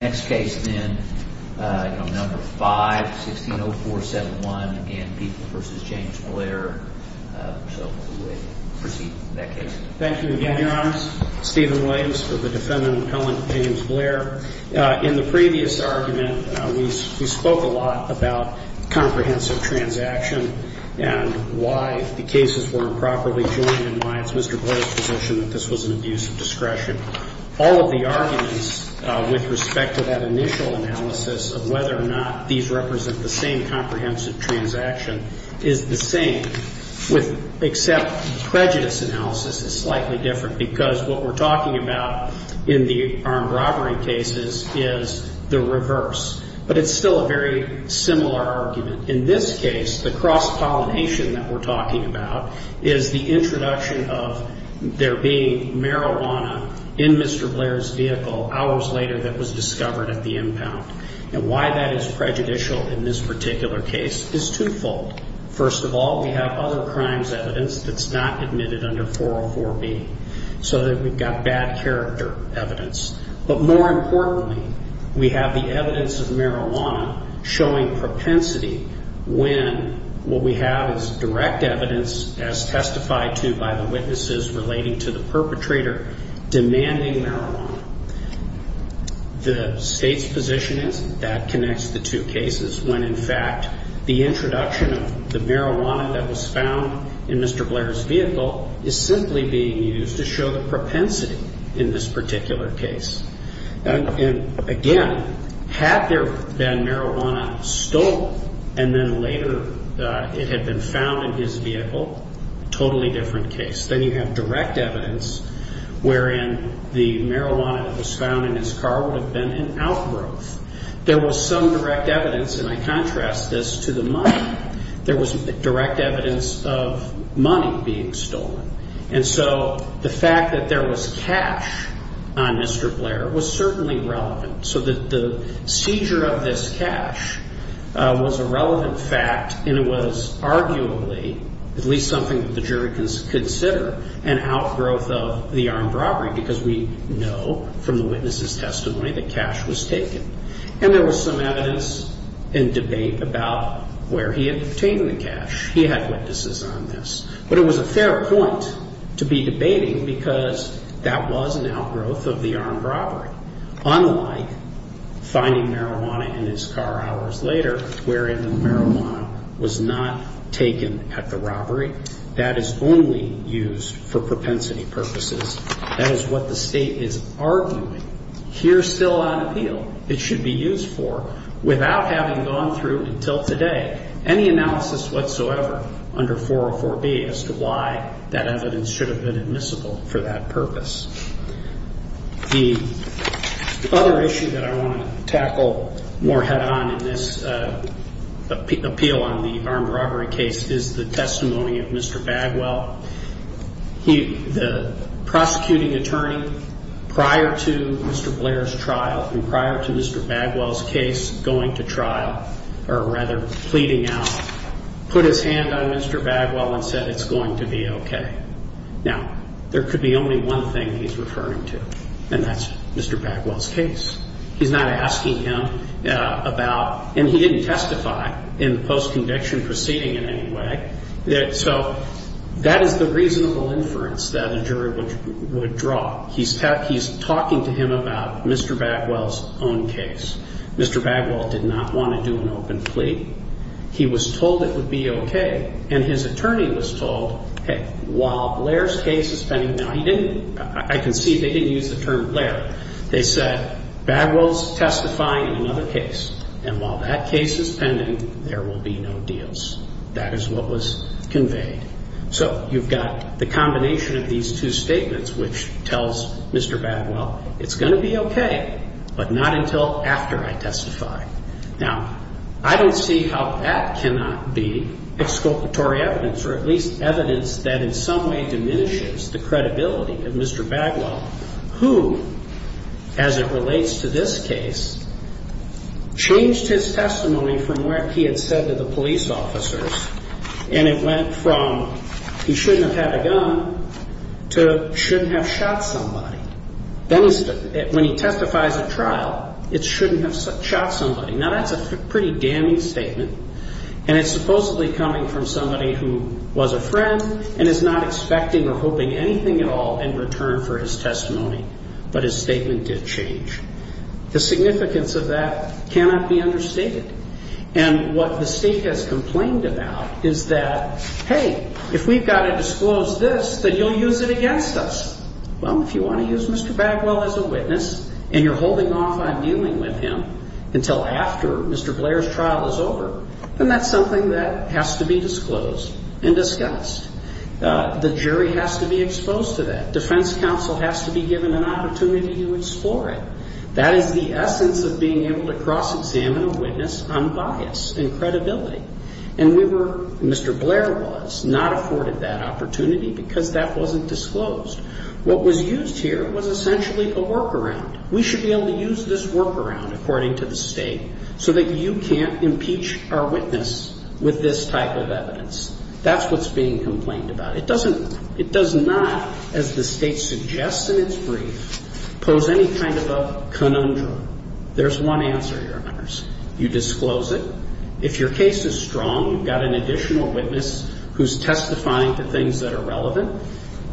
v. James Blair Thank you again, Your Honor. Stephen Williams for the defendant, Appellant James Blair. In the previous argument, we spoke a lot about comprehensive transaction and why the cases were improperly joined and why it's Mr. Blair's position that this was an abuse of discretion. All of the arguments with respect to that initial analysis of whether or not these represent the same comprehensive transaction is the same except prejudice analysis is slightly different because what we're talking about in the armed robbery cases is the reverse. But it's still a very similar argument. In this case, the cross-pollination that we're talking about is the introduction of there being marijuana in Mr. Blair's vehicle hours later that was discovered at the impound. And why that is prejudicial in this particular case is twofold. First of all, we have other crimes evidence that's not admitted under 404B so that we've got bad character evidence. But more importantly, we have the evidence of marijuana showing propensity when what we have is direct evidence as testified to by the witnesses relating to the perpetrator demanding marijuana. The State's position is that connects the two cases when, in fact, the introduction of the marijuana that was found in Mr. Blair's vehicle is simply being used to show the propensity in this particular case. And, again, had there been marijuana stolen and then later it had been found in his vehicle, totally different case. Then you have direct evidence wherein the marijuana that was found in his car would have been an outgrowth. There was some direct evidence, and I contrast this to the money, there was direct evidence of money being stolen. And so the fact that there was cash on Mr. Blair was certainly relevant. So the seizure of this cash was a relevant fact and it was arguably at least something that the jury can consider an outgrowth of the armed robbery because we know from the witnesses' testimony that cash was taken. And there was some evidence in debate about where he had obtained the cash. He had witnesses on this. But it was a fair point to be debating because that was an outgrowth of the armed robbery unlike finding marijuana in his car hours later wherein the marijuana was not taken at the robbery. That is only used for propensity purposes. That is what the State is arguing. Here, still on appeal, it should be used for without having gone through until today any analysis whatsoever under 404B as to why that evidence should have been admissible for that purpose. The other issue that I want to tackle more head-on in this appeal on the armed robbery case is the testimony of Mr. Bagwell. The prosecuting attorney, prior to Mr. Blair's trial and prior to Mr. Bagwell's case going to trial or rather pleading out, put his hand on Mr. Bagwell and said it's going to be okay. Now, there could be only one thing he's referring to and that's Mr. Bagwell's case. He's not asking him about and he didn't testify in the post-conviction proceeding in any way, so that is the reasonable inference that a jury would draw. He's talking to him about Mr. Bagwell's own case. Mr. Bagwell did not want to do an open plea. He was told it would be okay and his attorney was told, hey, while Blair's case is pending, now he didn't, I can see they didn't use the term Blair. They said Bagwell's testifying in another case and while that case is pending, there will be no deals. That is what was conveyed. So you've got the combination of these two statements which tells Mr. Bagwell it's going to be okay but not until after I testify. Now, I don't see how that cannot be exculpatory evidence or at least evidence that in some way diminishes the credibility of Mr. Bagwell who, as it relates to this case, changed his testimony from what he had said to the police officers and it went from he shouldn't have had a gun to shouldn't have shot somebody. When he testifies at trial, it shouldn't have shot somebody. Now, that's a pretty damning statement and it's supposedly coming from somebody who was a friend and is not expecting or hoping anything at all in return for his testimony but his statement did change. The significance of that cannot be understated and what the State has complained about is that, hey, if we've got to disclose this, then you'll use it against us. Well, if you want to use Mr. Bagwell as a witness and you're holding off on dealing with him until after Mr. Blair's trial is over, then that's something that has to be disclosed and discussed. The jury has to be exposed to that. Defense counsel has to be given an opportunity to explore it. That is the essence of being able to cross-examine a witness unbiased in credibility. And we were, Mr. Blair was, not afforded that opportunity because that wasn't disclosed. What was used here was essentially a workaround. We should be able to use this workaround, according to the State, so that you can't impeach our witness with this type of evidence. That's what's being complained about. It does not, as the State suggests in its brief, pose any kind of a conundrum. There's one answer, Your Honors. You disclose it. If your case is strong, you've got an additional witness who's testifying to things that are relevant,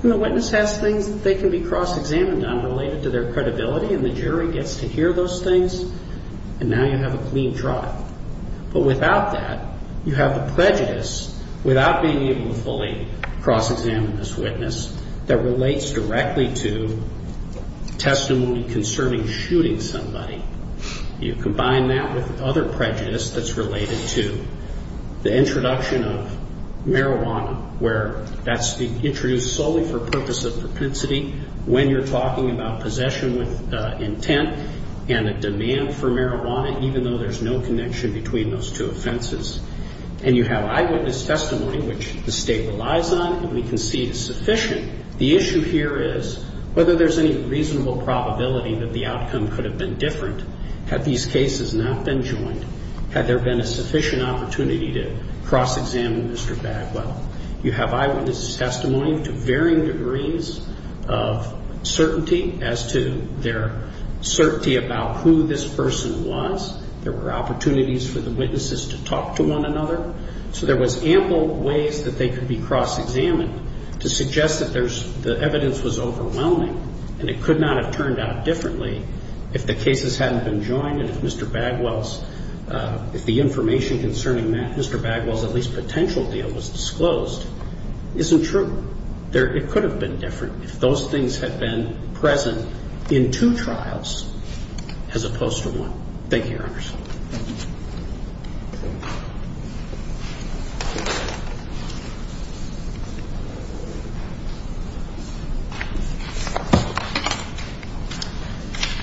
and the witness has things that they can be cross-examined on related to their credibility, and the jury gets to hear those things, and now you have a clean drop. But without that, you have a prejudice, without being able to fully cross-examine this witness, that relates directly to testimony concerning shooting somebody. You combine that with other prejudice that's related to the introduction of marijuana, where that's introduced solely for purpose of propensity when you're talking about possession with intent and a demand for marijuana, even though there's no connection between those two offenses. And you have eyewitness testimony, which the State relies on, and we can see it's sufficient. The issue here is whether there's any reasonable probability that the outcome could have been different had these cases not been joined, had there been a sufficient opportunity to cross-examine Mr. Bagwell. You have eyewitness testimony to varying degrees of certainty as to their certainty about who this person was. There were opportunities for the witnesses to talk to one another. So there was ample ways that they could be cross-examined to suggest that the evidence was overwhelming, and it could not have turned out differently if the cases hadn't been joined and if Mr. Bagwell's, if the information concerning Mr. Bagwell's at least potential deal was disclosed, isn't true. It could have been different if those things had been present in two trials as opposed to one. Thank you, Your Honors.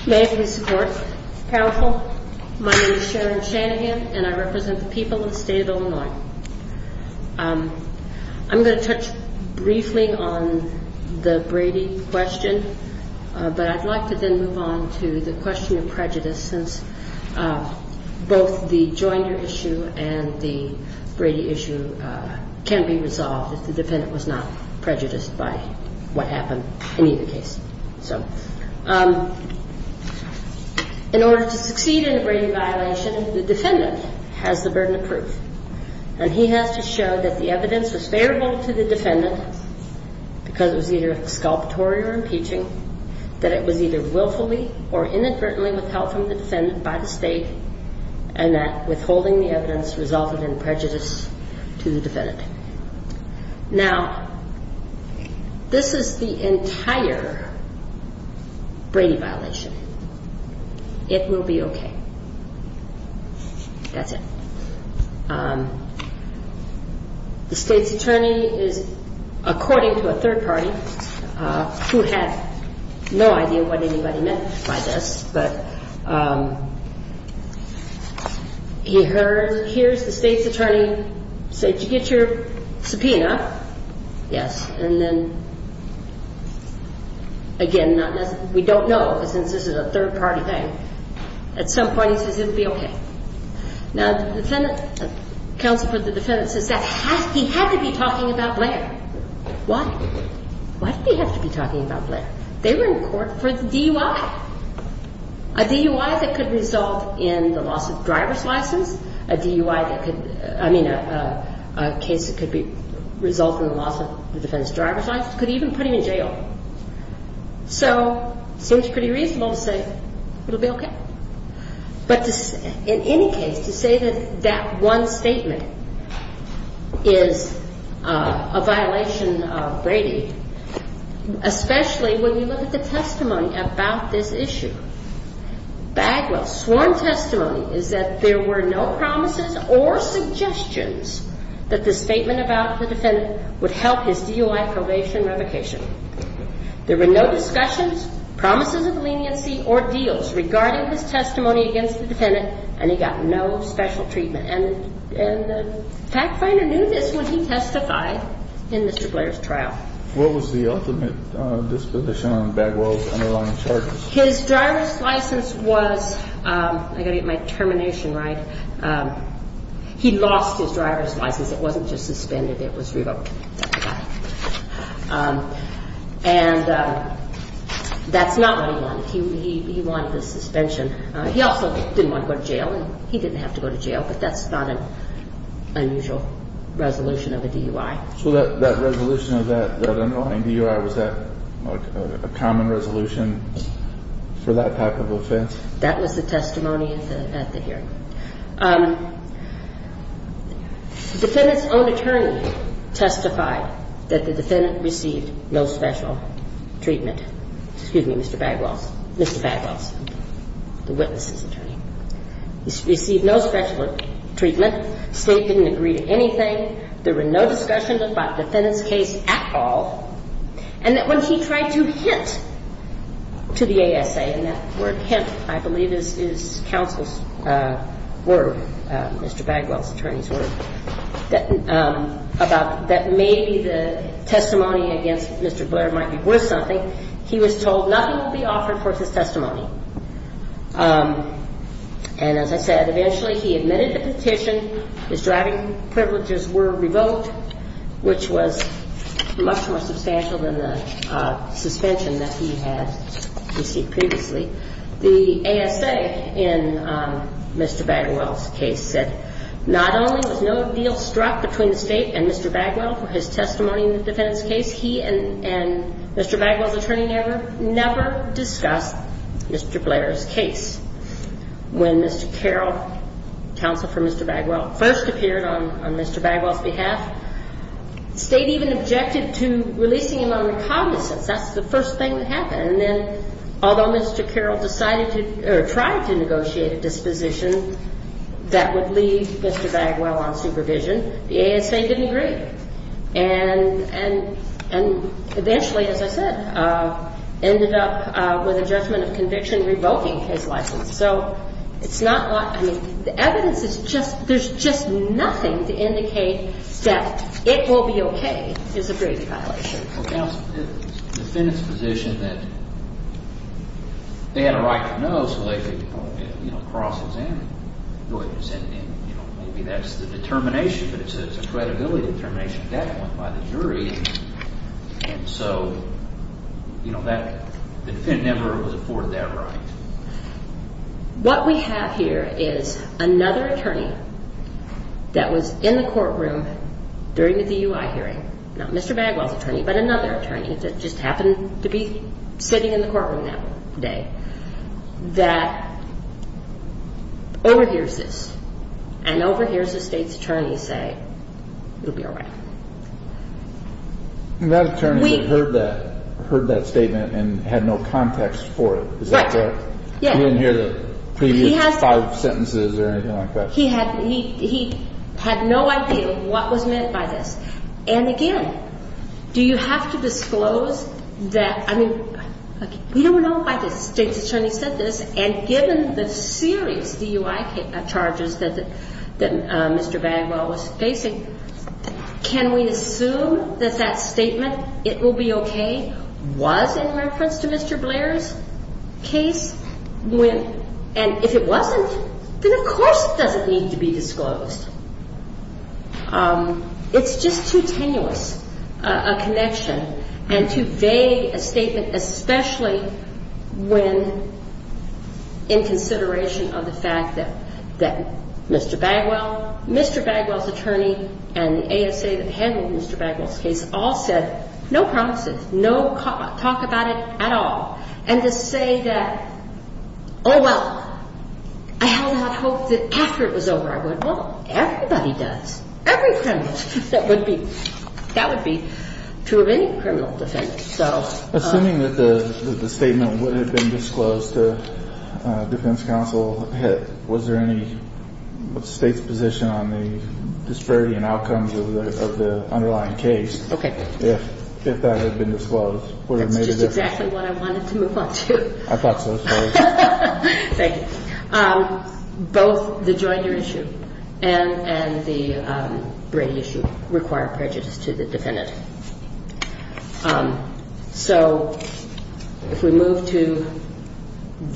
May I please support the counsel? My name is Sharon Shanahan, and I represent the people of the State of Illinois. I'm going to touch briefly on the Brady question, but I'd like to then move on to the question of prejudice since both the Joiner issue and the Brady issue can be resolved if the defendant was not prejudiced by what happened in either case. So in order to succeed in a Brady violation, the defendant has the burden of proof, and he has to show that the evidence was favorable to the defendant because it was either exculpatory or impeaching, that it was either willfully or inadvertently withheld from the defendant by the state, and that withholding the evidence resulted in prejudice to the defendant. Now, this is the entire Brady violation. It will be okay. That's it. The state's attorney is, according to a third party, who had no idea what anybody meant by this, but he hears the state's attorney say, Did you get your subpoena? Yes. And then, again, we don't know since this is a third party thing. At some point, he says it will be okay. Now, the counsel for the defendant says that he had to be talking about Blair. Why? Why did he have to be talking about Blair? They were in court for the DUI, a DUI that could result in the loss of driver's license, a DUI that could be a case that could result in the loss of the defendant's driver's license, could even put him in jail. So it seems pretty reasonable to say it will be okay. But in any case, to say that that one statement is a violation of Brady, especially when you look at the testimony about this issue, Bagwell's sworn testimony is that there were no promises or suggestions that the statement about the defendant would help his DUI probation revocation. There were no discussions, promises of leniency, or deals regarding his testimony against the defendant, and he got no special treatment. And the fact finder knew this when he testified in Mr. Blair's trial. What was the ultimate disposition on Bagwell's underlying charges? His driver's license was, I've got to get my termination right, he lost his driver's license. It wasn't just suspended, it was revoked. And that's not what he wanted. He wanted the suspension. He also didn't want to go to jail, and he didn't have to go to jail, but that's not an unusual resolution of a DUI. So that resolution of that underlying DUI, was that a common resolution for that type of offense? That was the testimony at the hearing. The defendant's own attorney testified that the defendant received no special treatment. Excuse me, Mr. Bagwell's. Mr. Bagwell's, the witness's attorney. He received no special treatment. State didn't agree to anything. There were no discussions about the defendant's case at all. And that when he tried to hint to the ASA, and that word hint, I believe, is counsel's word, Mr. Bagwell's attorney's word, that maybe the testimony against Mr. Blair might be worth something. He was told nothing would be offered for his testimony. And as I said, eventually he admitted the petition. His driving privileges were revoked, which was much more substantial than the suspension that he had received previously. The ASA in Mr. Bagwell's case said not only was no deal struck between the State and Mr. Bagwell for his testimony in the defendant's case, he and Mr. Bagwell's attorney never discussed Mr. Blair's case. When Mr. Carroll, counsel for Mr. Bagwell, first appeared on Mr. Bagwell's behalf, State even objected to releasing him under cognizance. That's the first thing that happened. And then although Mr. Carroll decided to, or tried to negotiate a disposition that would leave Mr. Bagwell on supervision, the ASA didn't agree. And eventually, as I said, ended up with a judgment of conviction revoking his license. So it's not like, I mean, the evidence is just, there's just nothing to indicate that it will be okay is a grave violation. Well, counsel, the defendant's position that they had a right to know, so they could cross-examine, maybe that's the determination, but it's a credibility determination at that point by the jury. And so, you know, the defendant never was afforded that right. What we have here is another attorney that was in the courtroom during the DUI hearing, not Mr. Bagwell's attorney, but another attorney, that just happened to be sitting in the courtroom that day, that overhears this and overhears the State's attorney say, it'll be all right. And that attorney had heard that statement and had no context for it. Is that correct? Yes. He didn't hear the previous five sentences or anything like that? He had no idea what was meant by this. And again, do you have to disclose that, I mean, we don't know why the State's attorney said this, and given the serious DUI charges that Mr. Bagwell was facing, can we assume that that statement, it will be okay, was in reference to Mr. Blair's case? And if it wasn't, then of course it doesn't need to be disclosed. It's just too tenuous a connection and too vague a statement, especially when in consideration of the fact that Mr. Bagwell, Mr. Bagwell's attorney and the ASA that handled Mr. Bagwell's case all said, no promises, no talk about it at all. And to say that, oh, well, I held out hope that after it was over, I would, well, everybody does, every criminal. That would be true of any criminal defendant. Assuming that the statement would have been disclosed to defense counsel, was there any State's position on the disparity in outcomes of the underlying case? Okay. If that had been disclosed, would it have made a difference? That's just exactly what I wanted to move on to. I thought so. Thank you. Both the jointer issue and the Brady issue require prejudice to the defendant. So if we move to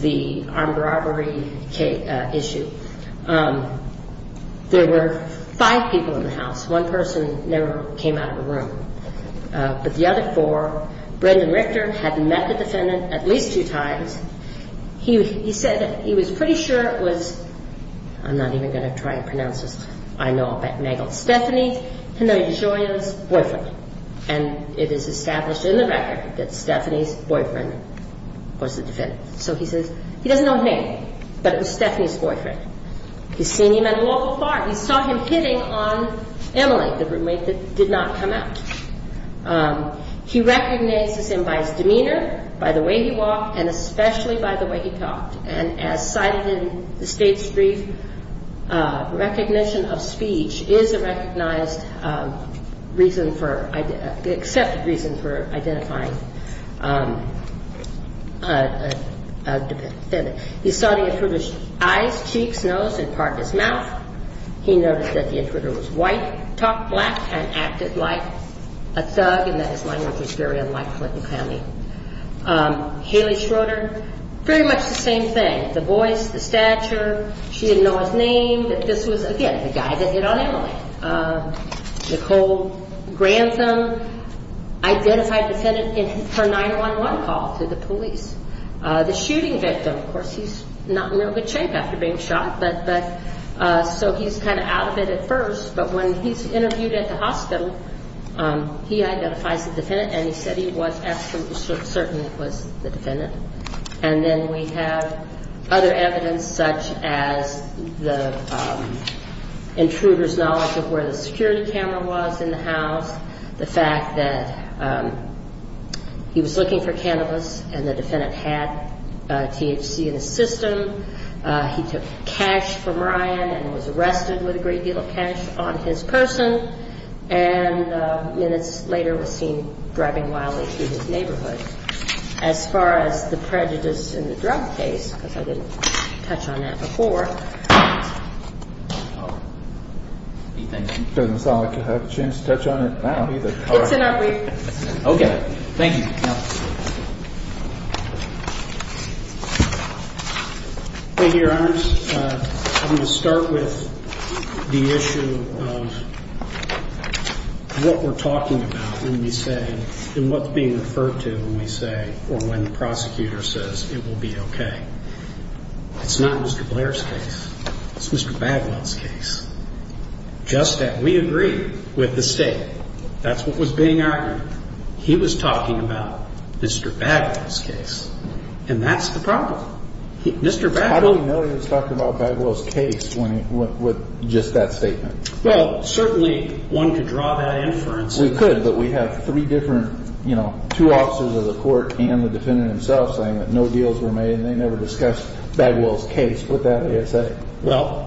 the armed robbery issue, there were five people in the house. One person never came out of the room. But the other four, Brendan Richter had met the defendant at least two times. He said that he was pretty sure it was, I'm not even going to try and pronounce this, I know all about it. Stephanie's, Henry DeGioia's boyfriend. And it is established in the record that Stephanie's boyfriend was the defendant. So he says he doesn't know his name, but it was Stephanie's boyfriend. He's seen him at a local bar. He saw him hitting on Emily, the roommate that did not come out. He recognizes him by his demeanor, by the way he walked, and especially by the way he talked. And as cited in the state's brief, recognition of speech is a recognized reason for, accepted reason for identifying a defendant. He saw the intruder's eyes, cheeks, nose, and part of his mouth. He noticed that the intruder was white, talked black, and acted like a thug and that his language was very unlike Clinton County. Haley Schroeder, pretty much the same thing. The voice, the stature, she didn't know his name, but this was, again, the guy that hit on Emily. Nicole Grantham identified the defendant in her 911 call to the police. The shooting victim, of course, he's not in real good shape after being shot, so he's kind of out of it at first, but when he's interviewed at the hospital, he identifies the defendant and he said he was absolutely certain it was the defendant. And then we have other evidence such as the intruder's knowledge of where the security camera was in the house, the fact that he was looking for cannabis and the defendant had THC in his system. He took cash from Ryan and was arrested with a great deal of cash on his person. And minutes later was seen driving wildly through his neighborhood. As far as the prejudice in the drug case, because I didn't touch on that before. It doesn't sound like you have a chance to touch on it now either. It's in our briefcase. Okay. Thank you. Thank you, Your Honor. I'm going to start with the issue of what we're talking about when we say, and what's being referred to when we say, or when the prosecutor says it will be okay. It's not Mr. Blair's case. It's Mr. Baglot's case. Just that we agree with the state. That's what was being argued. He was talking about Mr. Baglot's case. And that's the problem. How do we know he was talking about Baglot's case with just that statement? Well, certainly one could draw that inference. We could, but we have three different, you know, two officers of the court and the defendant himself saying that no deals were made and they never discussed Baglot's case with that ASA. Well,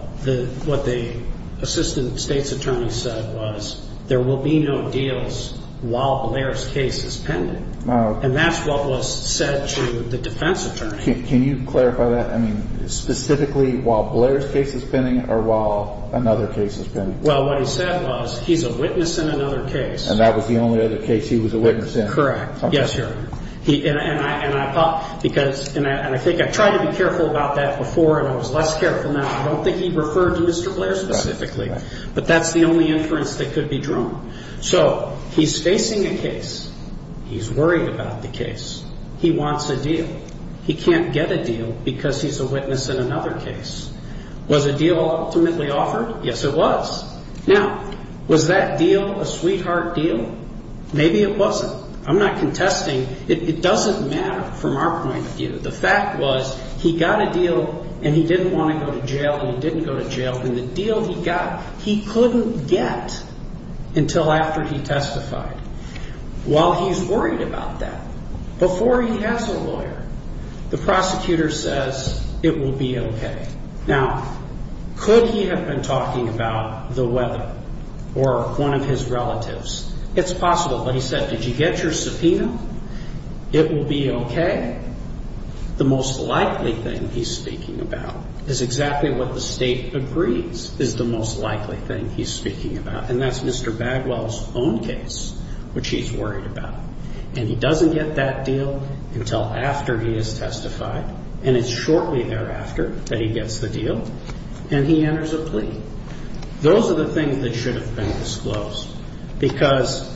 what the assistant state's attorney said was there will be no deals while Blair's case is pending. And that's what was said to the defense attorney. Can you clarify that? I mean, specifically while Blair's case is pending or while another case is pending? Well, what he said was he's a witness in another case. And that was the only other case he was a witness in. Correct. Yes, Your Honor. And I think I tried to be careful about that before and I was less careful now. I don't think he referred to Mr. Blair specifically. But that's the only inference that could be drawn. So he's facing a case. He's worried about the case. He wants a deal. He can't get a deal because he's a witness in another case. Was a deal ultimately offered? Yes, it was. Now, was that deal a sweetheart deal? Maybe it wasn't. I'm not contesting. It doesn't matter from our point of view. The fact was he got a deal and he didn't want to go to jail and he didn't go to jail. And the deal he got, he couldn't get until after he testified. While he's worried about that, before he has a lawyer, the prosecutor says it will be okay. Now, could he have been talking about the weather or one of his relatives? It's possible. But he said, did you get your subpoena? It will be okay. The most likely thing he's speaking about is exactly what the state agrees is the most likely thing he's speaking about. And that's Mr. Bagwell's own case, which he's worried about. And he doesn't get that deal until after he has testified. And it's shortly thereafter that he gets the deal and he enters a plea. Those are the things that should have been disclosed. Because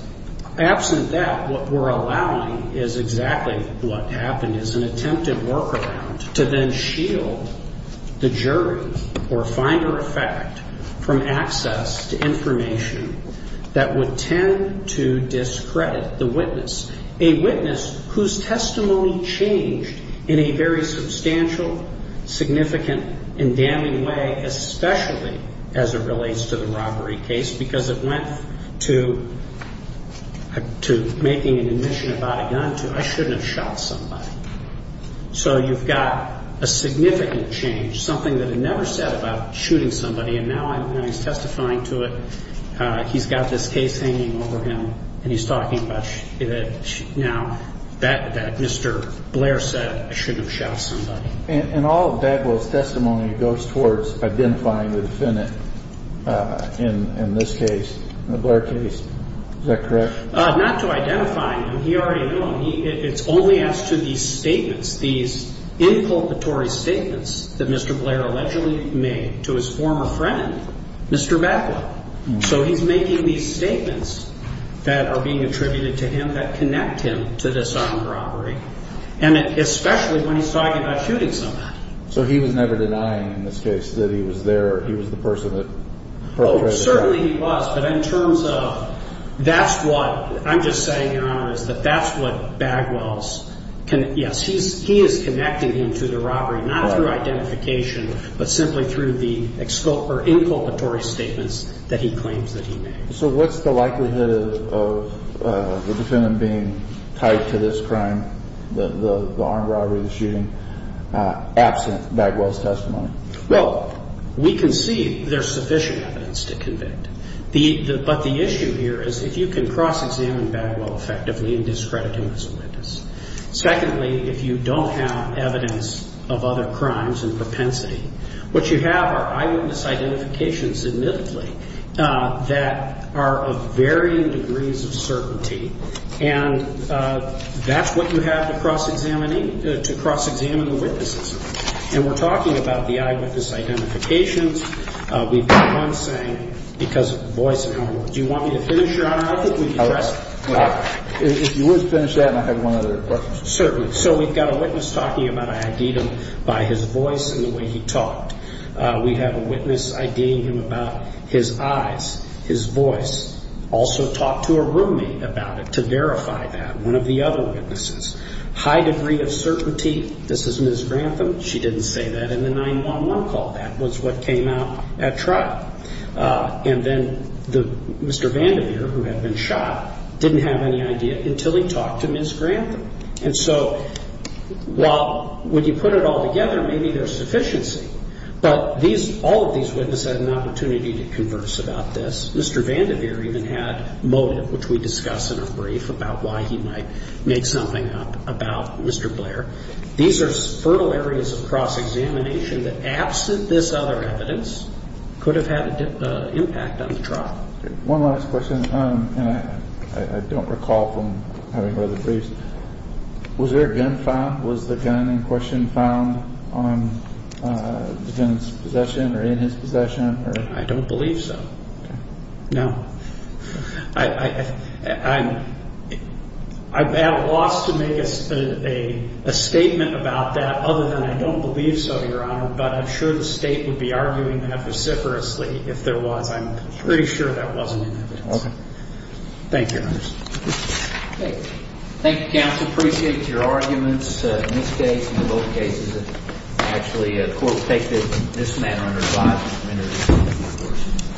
absent that, what we're allowing is exactly what happened, is an attempted workaround to then shield the jury or finder of fact from access to information that would tend to discredit the witness, a witness whose testimony changed in a very substantial, significant, and damning way, especially as it relates to the robbery case, because it went to making an admission about a gun to, I shouldn't have shot somebody. So you've got a significant change, something that had never said about shooting somebody, and now he's testifying to it, he's got this case hanging over him, and he's talking about, now, that Mr. Blair said, I shouldn't have shot somebody. And all of Bagwell's testimony goes towards identifying the defendant in this case, the Blair case. Is that correct? Not to identify him. He already knew him. It's only as to these statements, these inculpatory statements that Mr. Blair allegedly made to his former friend, Mr. Bagwell. So he's making these statements that are being attributed to him that connect him to this armed robbery. And especially when he's talking about shooting somebody. So he was never denying in this case that he was there, he was the person that perpetrated the robbery. Certainly he was, but in terms of that's what I'm just saying, Your Honor, is that that's what Bagwell's, yes, he is connecting him to the robbery, not through identification, but simply through the inculpatory statements that he claims that he made. So what's the likelihood of the defendant being tied to this crime, the armed robbery, the shooting, absent Bagwell's testimony? Well, we can see there's sufficient evidence to convict. But the issue here is if you can cross-examine Bagwell effectively in discrediting this witness. Secondly, if you don't have evidence of other crimes and propensity, what you have are eyewitness identifications, admittedly, that are of varying degrees of certainty. And that's what you have to cross-examine, to cross-examine the witnesses. And we're talking about the eyewitness identifications. We've got one saying because of the voice. Do you want me to finish, Your Honor? I think we can address it. If you would finish that and I have one other question. Certainly. So we've got a witness talking about I ID'd him by his voice and the way he talked. We have a witness IDing him about his eyes, his voice. Also talked to a roommate about it to verify that, one of the other witnesses. High degree of certainty, this is Ms. Grantham. She didn't say that in the 911 call. That was what came out at trial. And then Mr. Vandiver, who had been shot, didn't have any idea until he talked to Ms. Grantham. And so while when you put it all together, maybe there's sufficiency, but all of these witnesses had an opportunity to converse about this. Mr. Vandiver even had motive, which we discuss in a brief, about why he might make something up about Mr. Blair. These are fertile areas of cross-examination that, absent this other evidence, could have had an impact on the trial. One last question, and I don't recall from having read the briefs. Was there a gun found? Was the gun in question found on the defendant's possession or in his possession? I don't believe so, no. I've had a loss to make a statement about that other than I don't believe so, Your Honor, but I'm sure the state would be arguing that vociferously if there was. I'm pretty sure that wasn't in evidence. Okay. Thank you, Your Honor. Thank you, counsel. Appreciate your arguments in this case and in both cases. Actually, the court takes it in this manner under 5 minutes.